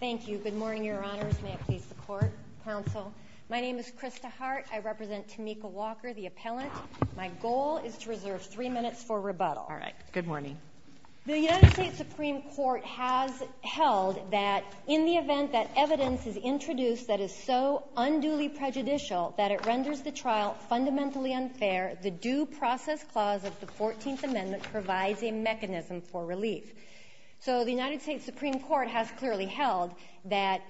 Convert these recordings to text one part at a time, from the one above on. Good morning, Your Honors. May it please the Court, Counsel. My name is Krista Hart. I represent Tamekca Walker, the appellant. My goal is to reserve three minutes for rebuttal. All right. Good morning. The United States Supreme Court has held that in the event that evidence is introduced that is so unduly prejudicial that it renders the trial fundamentally unfair, the Due Process Clause of the Fourteenth Amendment provides a mechanism for relief. So the United States Supreme Court has clearly held that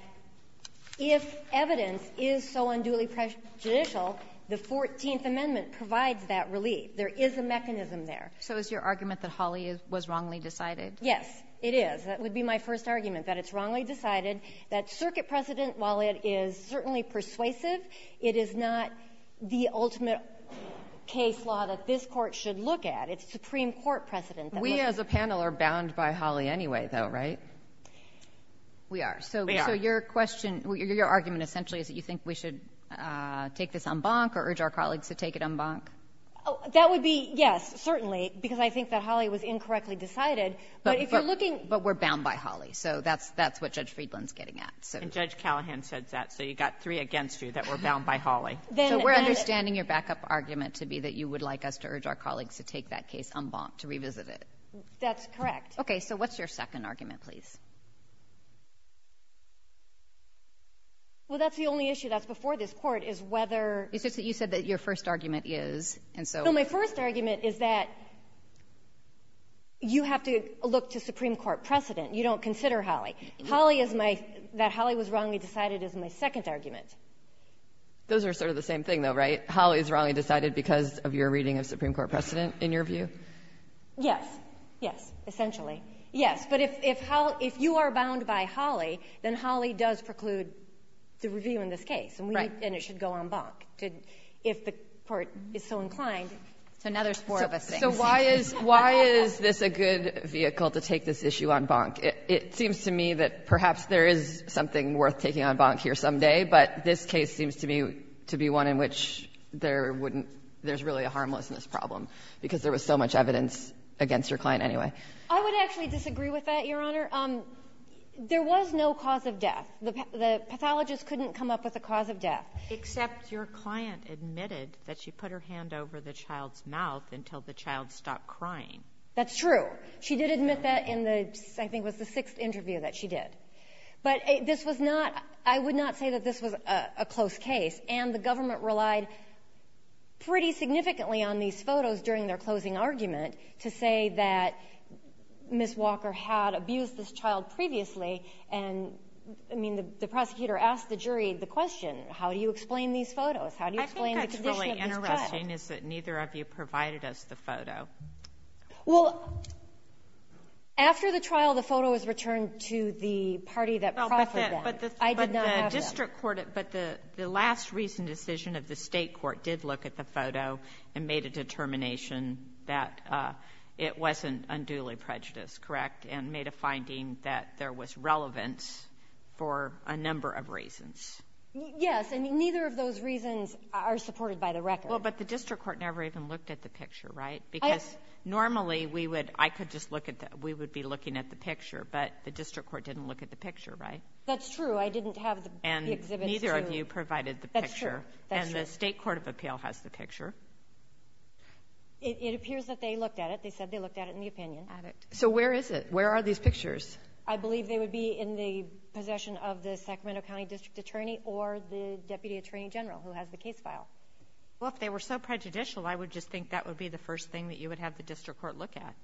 if evidence is so unduly prejudicial, the Fourteenth Amendment provides that relief. There is a mechanism there. So is your argument that Hawley was wrongly decided? Yes, it is. That would be my first argument, that it's wrongly decided. That circuit precedent, while it is certainly persuasive, it is not the ultimate case law that this Court should look at. It's Supreme Court precedent that looks at it. We, as a panel, are bound by Hawley anyway, though, right? We are. We are. So your question or your argument essentially is that you think we should take this en banc or urge our colleagues to take it en banc? That would be yes, certainly, because I think that Hawley was incorrectly decided. But if you're looking at But we're bound by Hawley. So that's what Judge Friedland's getting at. And Judge Callahan said that. So you've got three against you that were bound by Hawley. So we're understanding your backup argument to be that you would like us to urge our colleagues to take that case en banc, to revisit it. That's correct. Okay. So what's your second argument, please? Well, that's the only issue that's before this Court, is whether It's just that you said that your first argument is, and so No, my first argument is that you have to look to Supreme Court precedent. You don't consider Hawley. Hawley is my, that Hawley was wrongly decided is my second argument. Those are sort of the same thing, though, right? Hawley is wrongly decided because of your reading of Supreme Court precedent, in your view? Yes. Yes, essentially. Yes. But if you are bound by Hawley, then Hawley does preclude the review in this case. And it should go en banc, if the Court is so inclined. So now there's four of us. So why is this a good vehicle to take this issue en banc? It seems to me that perhaps there is something worth taking en banc here someday. But this case seems to me to be one in which there's really a harmlessness problem, because there was so much evidence against your client anyway. I would actually disagree with that, Your Honor. There was no cause of death. The pathologist couldn't come up with a cause of death. Except your client admitted that she put her hand over the child's mouth until the child stopped crying. That's true. She did admit that in the, I think it was the sixth interview that she did. But this was not, I would not say that this was a close case. And the government relied pretty significantly on these photos during their closing argument to say that Ms. Walker had abused this child previously. And, I mean, the prosecutor asked the jury the question, how do you explain these photos? How do you explain the condition of this child? I think what's really interesting is that neither of you provided us the photo. Well, after the trial, the photo was returned to the party that profited them. I did not have that. But the district court, but the last recent decision of the state court did look at the photo and made a determination that it wasn't unduly prejudiced, correct? And made a finding that there was relevance for a number of reasons. Yes. And neither of those reasons are supported by the record. Well, but the district court never even looked at the picture, right? Because normally, we would, I could just look at the, we would be looking at the picture. But the district court didn't look at the picture, right? That's true. I didn't have the exhibit to. And neither of you provided the picture. That's true. That's true. And the state court of appeal has the picture. It appears that they looked at it. They said they looked at it in the opinion. So where is it? Where are these pictures? I believe they would be in the possession of the Sacramento County District Attorney or the Deputy Attorney General who has the case file. Well, if they were so prejudicial, I would just think that would be the first thing that you would have the district court look at.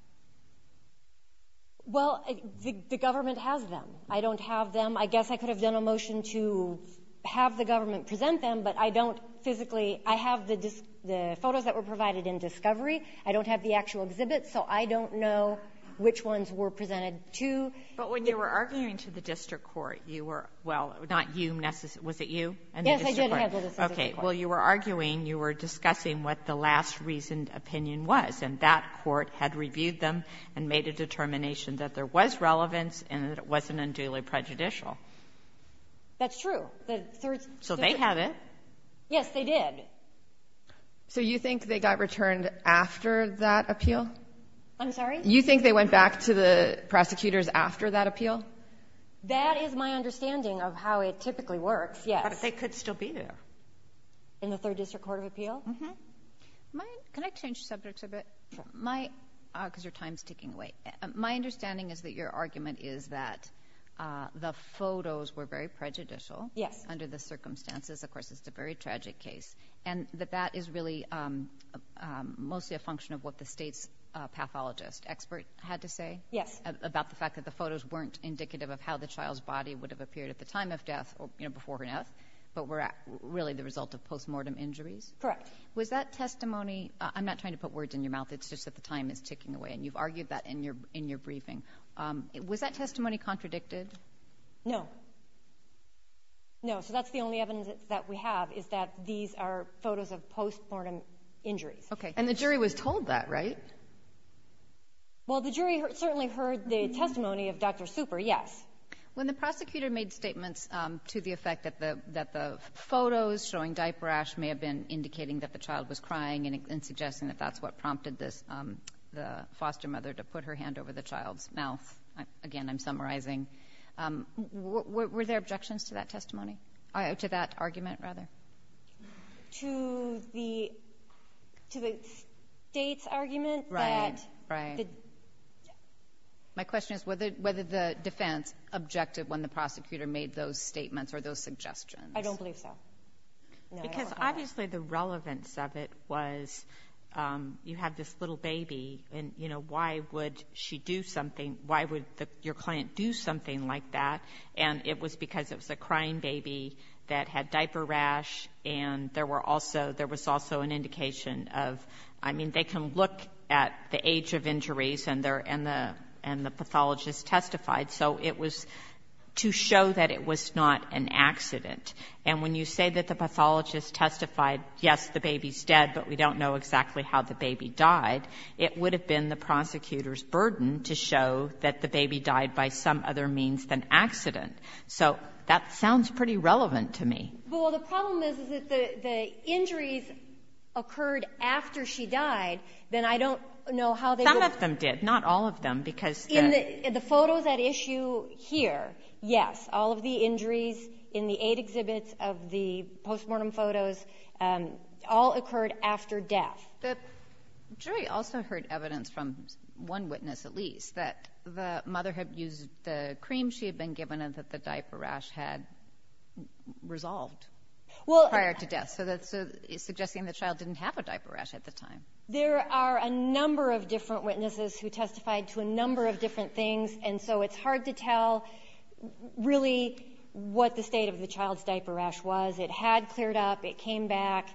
Well, the government has them. I don't have them. I guess I could have done a motion to have the government present them, but I don't physically. I have the photos that were provided in discovery. I don't have the actual exhibit, so I don't know which ones were presented to. But when you were arguing to the district court, you were, well, not you necessarily — was it you and the district court? Yes, I did have the district court. Okay. Well, you were arguing, you were discussing what the last reasoned opinion was, and that court had reviewed them and made a determination that there was relevance and that it wasn't unduly prejudicial. That's true. The third — So they have it. Yes, they did. So you think they got returned after that appeal? I'm sorry? You think they went back to the prosecutors after that appeal? That is my understanding of how it typically works, yes. But they could still be there. In the third district court of appeal? Uh-huh. My — can I change subjects a bit? Sure. My — because your time's ticking away. My understanding is that your argument is that the photos were very prejudicial. Yes. Under the circumstances. Of course, it's a very tragic case. And that that is really mostly a function of what the state's pathologist expert had to say? Yes. About the fact that the photos weren't indicative of how the child's body would have appeared at the time of death or, you know, before her death, but were really the result of postmortem injuries? Correct. Was that testimony — I'm not trying to put words in your mouth. It's just that the time is ticking away. And you've argued that in your briefing. Was that testimony contradicted? No. No. So that's the only evidence that we have, is that these are photos of postmortem injuries. Okay. And the jury was told that, right? Well, the jury certainly heard the testimony of Dr. Super, yes. When the prosecutor made statements to the effect that the photos showing diaper ash may have been indicating that the child was crying and suggesting that that's what prompted the foster mother to put her hand over the child's mouth — again, I'm summarizing — were there objections to that testimony? To that argument, rather? To the state's argument that — Right. Right. My question is whether the defense objected when the prosecutor made those statements or those suggestions. I don't believe so. Because obviously the relevance of it was you have this little baby, and, you know, why would she do something? Why would your client do something like that? And it was because it was a crying baby that had diaper rash, and there was also an indication of — I mean, they can look at the age of injuries and the pathologist testified. So it was to show that it was not an accident. And when you say that the pathologist testified, yes, the baby's dead, but we don't know exactly how the baby died, it would have been the prosecutor's burden to show that the baby died by some other means than accident. So that sounds pretty relevant to me. Well, the problem is that the injuries occurred after she died. Then I don't know how they — Some of them did. Not all of them, because — In the photos at issue here, yes. All of the injuries in the eight exhibits of the post-mortem photos all occurred after death. The jury also heard evidence from one witness, at least, that the mother had used the cream she had been given and that the diaper rash had resolved prior to death. So that's suggesting the child didn't have a diaper rash at the time. There are a number of different witnesses who testified to a number of different things, and so it's hard to tell really what the state of the child's diaper rash was. It had cleared up. It came back.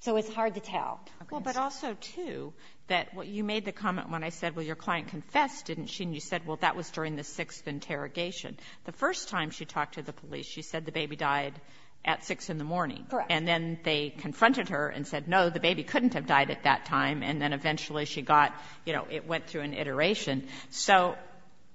So it's hard to tell. Well, but also, too, that you made the comment when I said, well, your client confessed, didn't she? And you said, well, that was during the sixth interrogation. The first time she talked to the police, she said the baby died at 6 in the morning. Correct. And then they confronted her and said, no, the baby couldn't have died at that time, and then eventually she got — you know, it went through an iteration. So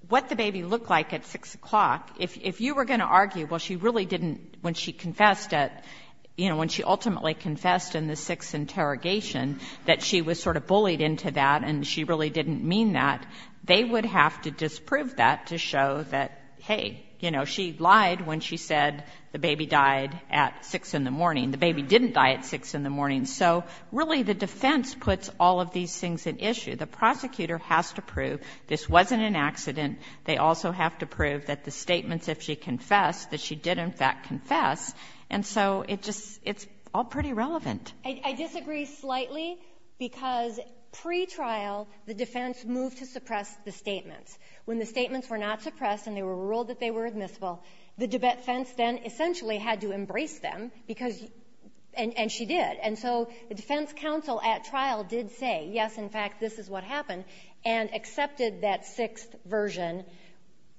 what the baby looked like at 6 o'clock, if you were going to argue, well, she really didn't — when she confessed at — you know, when she ultimately confessed in the sixth interrogation, that she was sort of bullied into that and she really didn't mean that, they would have to disprove that to show that, hey, you know, she lied when she said the baby died at 6 in the morning. The baby didn't die at 6 in the morning. So really the defense puts all of these things at issue. The prosecutor has to prove this wasn't an accident. They also have to prove that the statements, if she confessed, that she did in fact confess, and so it just — it's all pretty relevant. I disagree slightly because pretrial the defense moved to suppress the statements. When the statements were not suppressed and they were ruled that they were admissible, the defense then essentially had to embrace them because — and she did. And so the defense counsel at trial did say, yes, in fact, this is what happened, and accepted that sixth version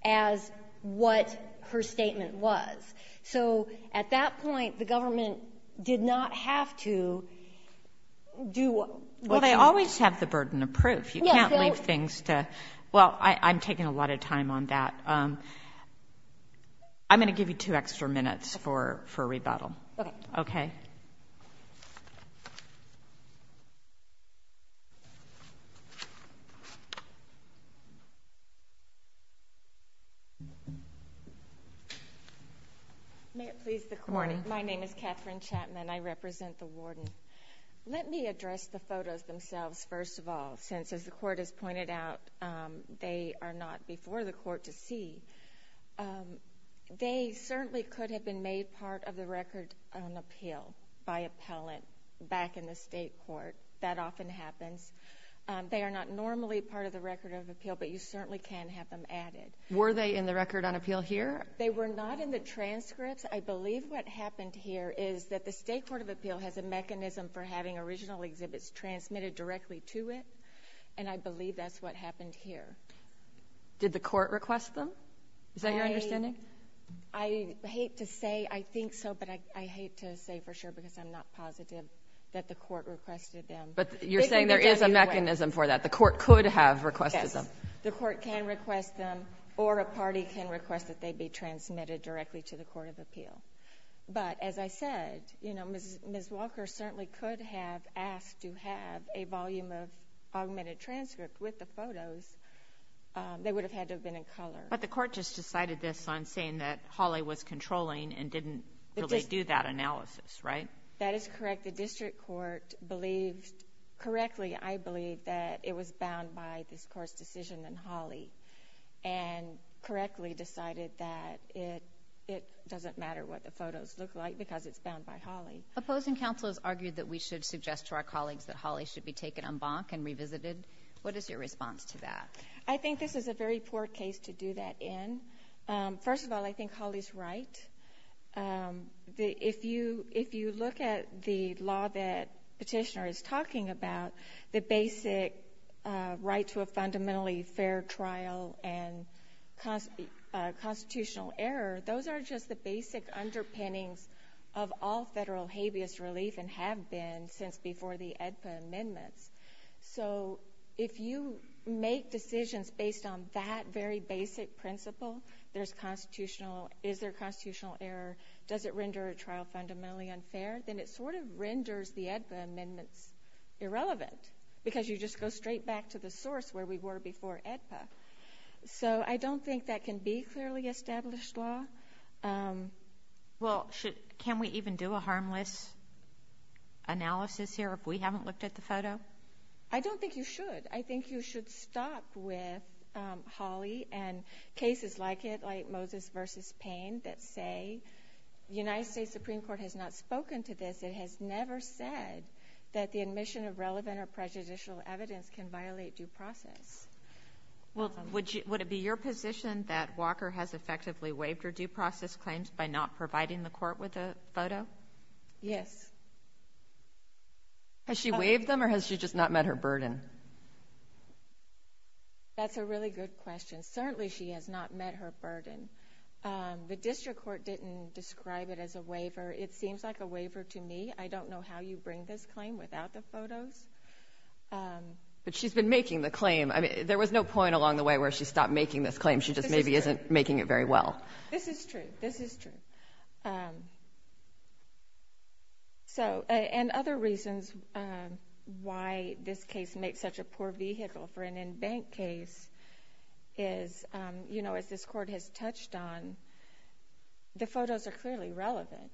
as what her statement was. So at that point, the government did not have to do — Well, they always have the burden of proof. You can't leave things to — well, I'm taking a lot of time on that. I'm going to give you two extra minutes for rebuttal. Okay. Okay. May it please the Court? Good morning. My name is Catherine Chapman. I represent the warden. Let me address the photos themselves first of all since, as the Court has pointed out, they are not before the Court to see. They certainly could have been made part of the record on appeal by appellant back in the state court. That often happens. They are not normally part of the record of appeal, but you certainly can have them added. Were they in the record on appeal here? They were not in the transcripts. I believe what happened here is that the state court of appeal has a mechanism for having original exhibits transmitted directly to it, and I believe that's what happened here. Did the Court request them? Is that your understanding? I hate to say I think so, but I hate to say for sure because I'm not positive that the Court requested them. But you're saying there is a mechanism for that. The Court could have requested them. The Court can request them or a party can request that they be transmitted directly to the court of appeal. But as I said, Ms. Walker certainly could have asked to have a volume of augmented transcript with the photos. They would have had to have been in color. But the Court just decided this on saying that Hawley was controlling and didn't really do that analysis, right? That is correct. The District Court believed correctly, I believe, that it was bound by this Court's decision on Hawley and correctly decided that it doesn't matter what the photos look like because it's bound by Hawley. Opposing counsel has argued that we should suggest to our colleagues that Hawley should be taken en banc and revisited. What is your response to that? I think this is a very poor case to do that in. First of all, I think Hawley's right. If you look at the law that Petitioner is talking about, the basic right to a fundamentally fair trial and constitutional error, those are just the basic underpinnings of all federal habeas relief and have been since before the AEDPA amendments. So if you make decisions based on that very basic principle, there's constitutional, is there constitutional error, does it render a trial fundamentally unfair, then it sort of renders the AEDPA amendments irrelevant because you just go straight back to the source where we were before AEDPA. So I don't think that can be clearly established law. Well, can we even do a harmless analysis here if we haven't looked at the photo? I don't think you should. I think you should stop with Hawley and cases like it, like Moses v. Payne, that say the United States Supreme Court has not spoken to this. It has never said that the admission of relevant or prejudicial evidence can violate due process. Well, would it be your position that Walker has effectively waived her due process claims by not providing the court with a photo? Yes. Has she waived them or has she just not met her burden? That's a really good question. Certainly she has not met her burden. The district court didn't describe it as a waiver. It seems like a waiver to me. I don't know how you bring this claim without the photos. But she's been making the claim. There was no point along the way where she stopped making this claim. She just maybe isn't making it very well. This is true. This is true. And other reasons why this case makes such a poor vehicle for an in-bank case is, as this court has touched on, the photos are clearly relevant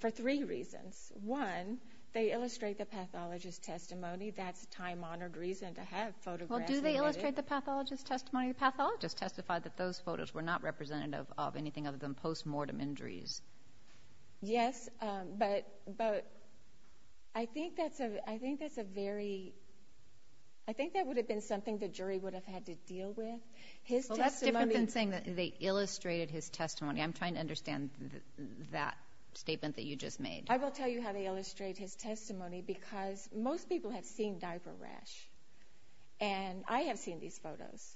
for three reasons. One, they illustrate the pathologist's testimony. That's a time-honored reason to have photographs. Well, do they illustrate the pathologist's testimony? The pathologist testified that those photos were not representative of anything other than post-mortem injuries. Yes, but I think that's a very—I think that would have been something the jury would have had to deal with. His testimony— Well, that's different than saying that they illustrated his testimony. I'm trying to understand that statement that you just made. I will tell you how they illustrate his testimony because most people have seen diaper rash, and I have seen these photos.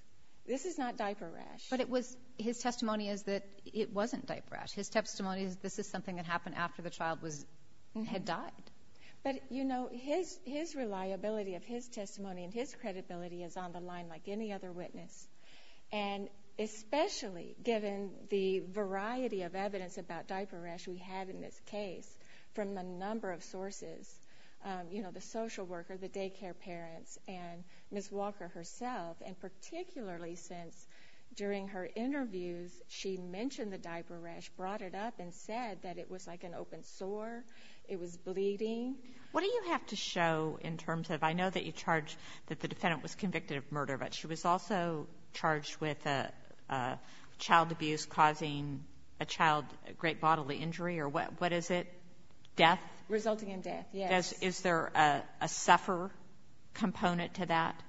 This is not diaper rash. But it was—his testimony is that it wasn't diaper rash. His testimony is this is something that happened after the child was—had died. But, you know, his reliability of his testimony and his credibility is on the line like any other witness, and especially given the variety of evidence about diaper rash we have in this case from a number of sources, you know, the social worker, the daycare parents, and Ms. Walker herself, and particularly since during her interviews she mentioned the diaper rash, brought it up, and said that it was like an open sore, it was bleeding. What do you have to show in terms of—I know that you charge that the defendant was convicted of murder, but she was also charged with child abuse causing a child great bodily injury or what is it? Death? Resulting in death, yes. Is there a sufferer component to that?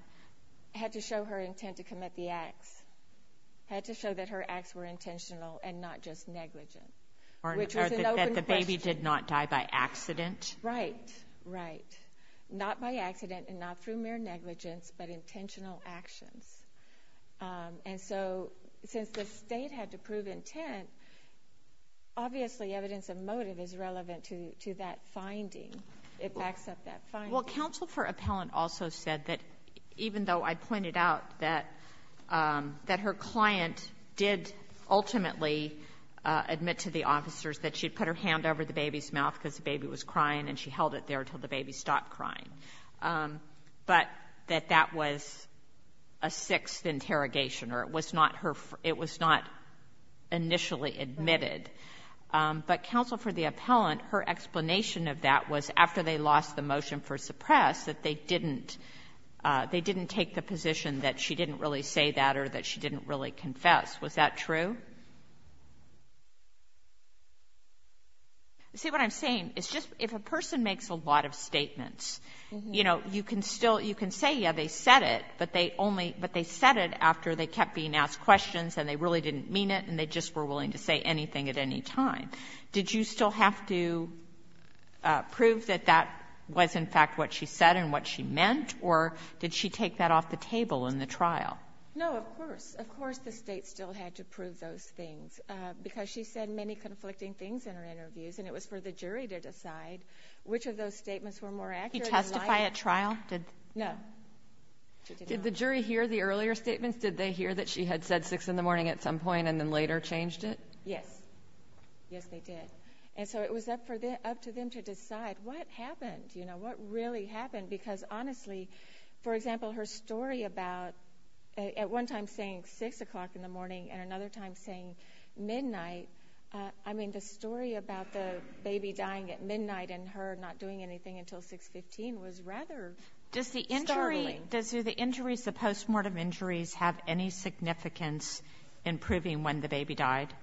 Had to show her intent to commit the acts. Had to show that her acts were intentional and not just negligent. Or that the baby did not die by accident. Right, right. Not by accident and not through mere negligence, but intentional actions. And so since the state had to prove intent, obviously evidence of motive is relevant to that finding. It backs up that finding. Well, counsel for appellant also said that even though I pointed out that her client did ultimately admit to the officers that she had put her hand over the baby's mouth because the baby was crying and she held it there until the baby stopped crying, but that that was a sixth interrogation or it was not initially admitted. But counsel for the appellant, her explanation of that was after they lost the motion for suppress, that they didn't take the position that she didn't really say that or that she didn't really confess. Was that true? See, what I'm saying is just if a person makes a lot of statements, you know, you can say, yeah, they said it, but they said it after they kept being asked questions and they really didn't mean it and they just were willing to say anything at any time. Did you still have to prove that that was, in fact, what she said and what she meant? Or did she take that off the table in the trial? No, of course. Of course the state still had to prove those things because she said many conflicting things in her interviews and it was for the jury to decide which of those statements were more accurate. Did he testify at trial? No. Did the jury hear the earlier statements? Did they hear that she had said 6 in the morning at some point and then later changed it? Yes. Yes, they did. And so it was up to them to decide what happened, you know, what really happened, because honestly, for example, her story about at one time saying 6 o'clock in the morning and another time saying midnight, I mean, the story about the baby dying at midnight and her not doing anything until 6.15 was rather startling. Does the injuries, the post-mortem injuries, have any significance in proving when the baby died?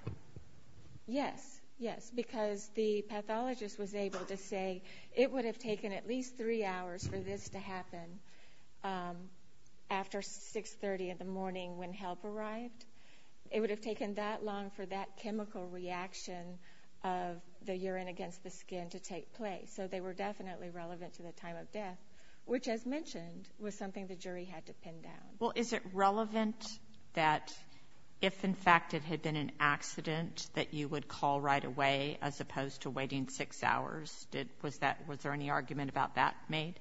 Yes. Yes, because the pathologist was able to say it would have taken at least three hours for this to happen after 6.30 in the morning when help arrived. It would have taken that long for that chemical reaction of the urine against the skin to take place. So they were definitely relevant to the time of death, which, as mentioned, was something the jury had to pin down. Well, is it relevant that if, in fact, it had been an accident that you would call right away as opposed to waiting six hours? Was there any argument about that made?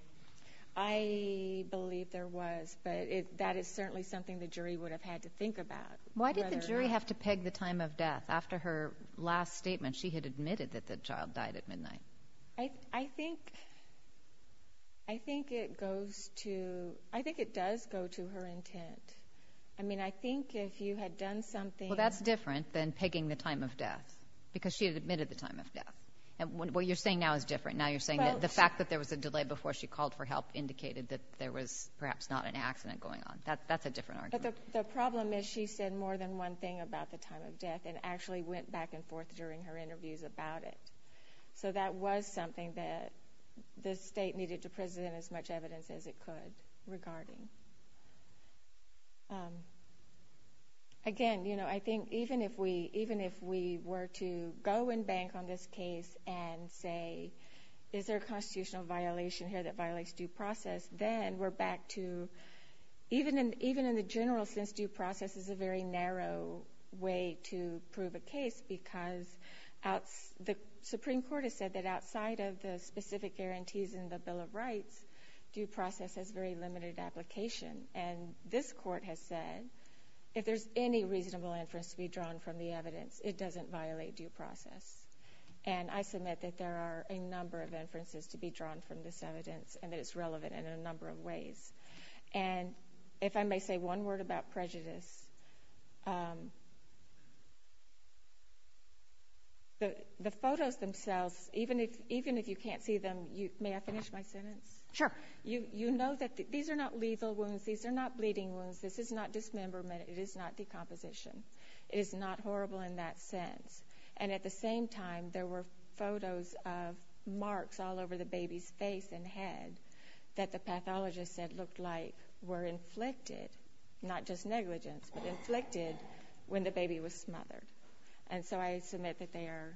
I believe there was, but that is certainly something the jury would have had to think about. Why did the jury have to peg the time of death after her last statement? She had admitted that the child died at midnight. I think it goes to—I think it does go to her intent. I mean, I think if you had done something— Well, that's different than pegging the time of death because she had admitted the time of death. What you're saying now is different. Now you're saying that the fact that there was a delay before she called for help indicated that there was perhaps not an accident going on. That's a different argument. But the problem is she said more than one thing about the time of death and actually went back and forth during her interviews about it. So that was something that the state needed to present as much evidence as it could regarding. Again, you know, I think even if we were to go and bank on this case and say, is there a constitutional violation here that violates due process, then we're back to—even in the general sense, due process is a very narrow way to prove a case because the Supreme Court has said that outside of the specific guarantees in the Bill of Rights, due process has very limited application. And this Court has said if there's any reasonable inference to be drawn from the evidence, it doesn't violate due process. And I submit that there are a number of inferences to be drawn from this evidence and that it's relevant in a number of ways. And if I may say one word about prejudice, the photos themselves, even if you can't see them—may I finish my sentence? Sure. You know that these are not lethal wounds. These are not bleeding wounds. This is not dismemberment. It is not decomposition. It is not horrible in that sense. And at the same time, there were photos of marks all over the baby's face and head that the pathologist said looked like were inflicted, not just negligence, but inflicted when the baby was smothered. And so I submit that they are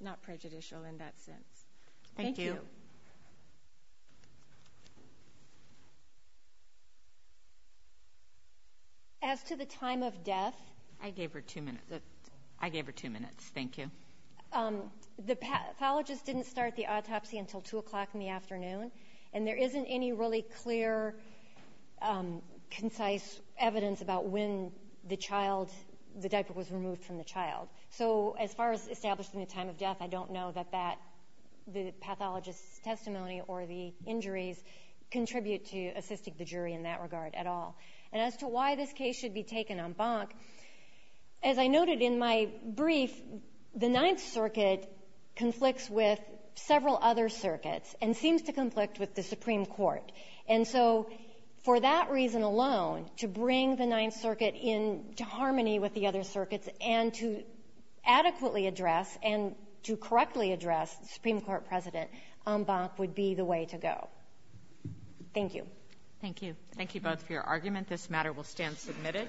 not prejudicial in that sense. Thank you. Thank you. As to the time of death— I gave her two minutes. I gave her two minutes. Thank you. The pathologist didn't start the autopsy until 2 o'clock in the afternoon, and there isn't any really clear, concise evidence about when the diaper was removed from the child. So as far as establishing the time of death, I don't know that the pathologist's testimony or the injuries contribute to assisting the jury in that regard at all. And as to why this case should be taken en banc, as I noted in my brief, the Ninth Circuit conflicts with several other circuits and seems to conflict with the Supreme Court. And so for that reason alone, to bring the Ninth Circuit into harmony with the other circuits and to adequately address and to correctly address the Supreme Court president en banc would be the way to go. Thank you. Thank you. Thank you both for your argument. This matter will stand submitted.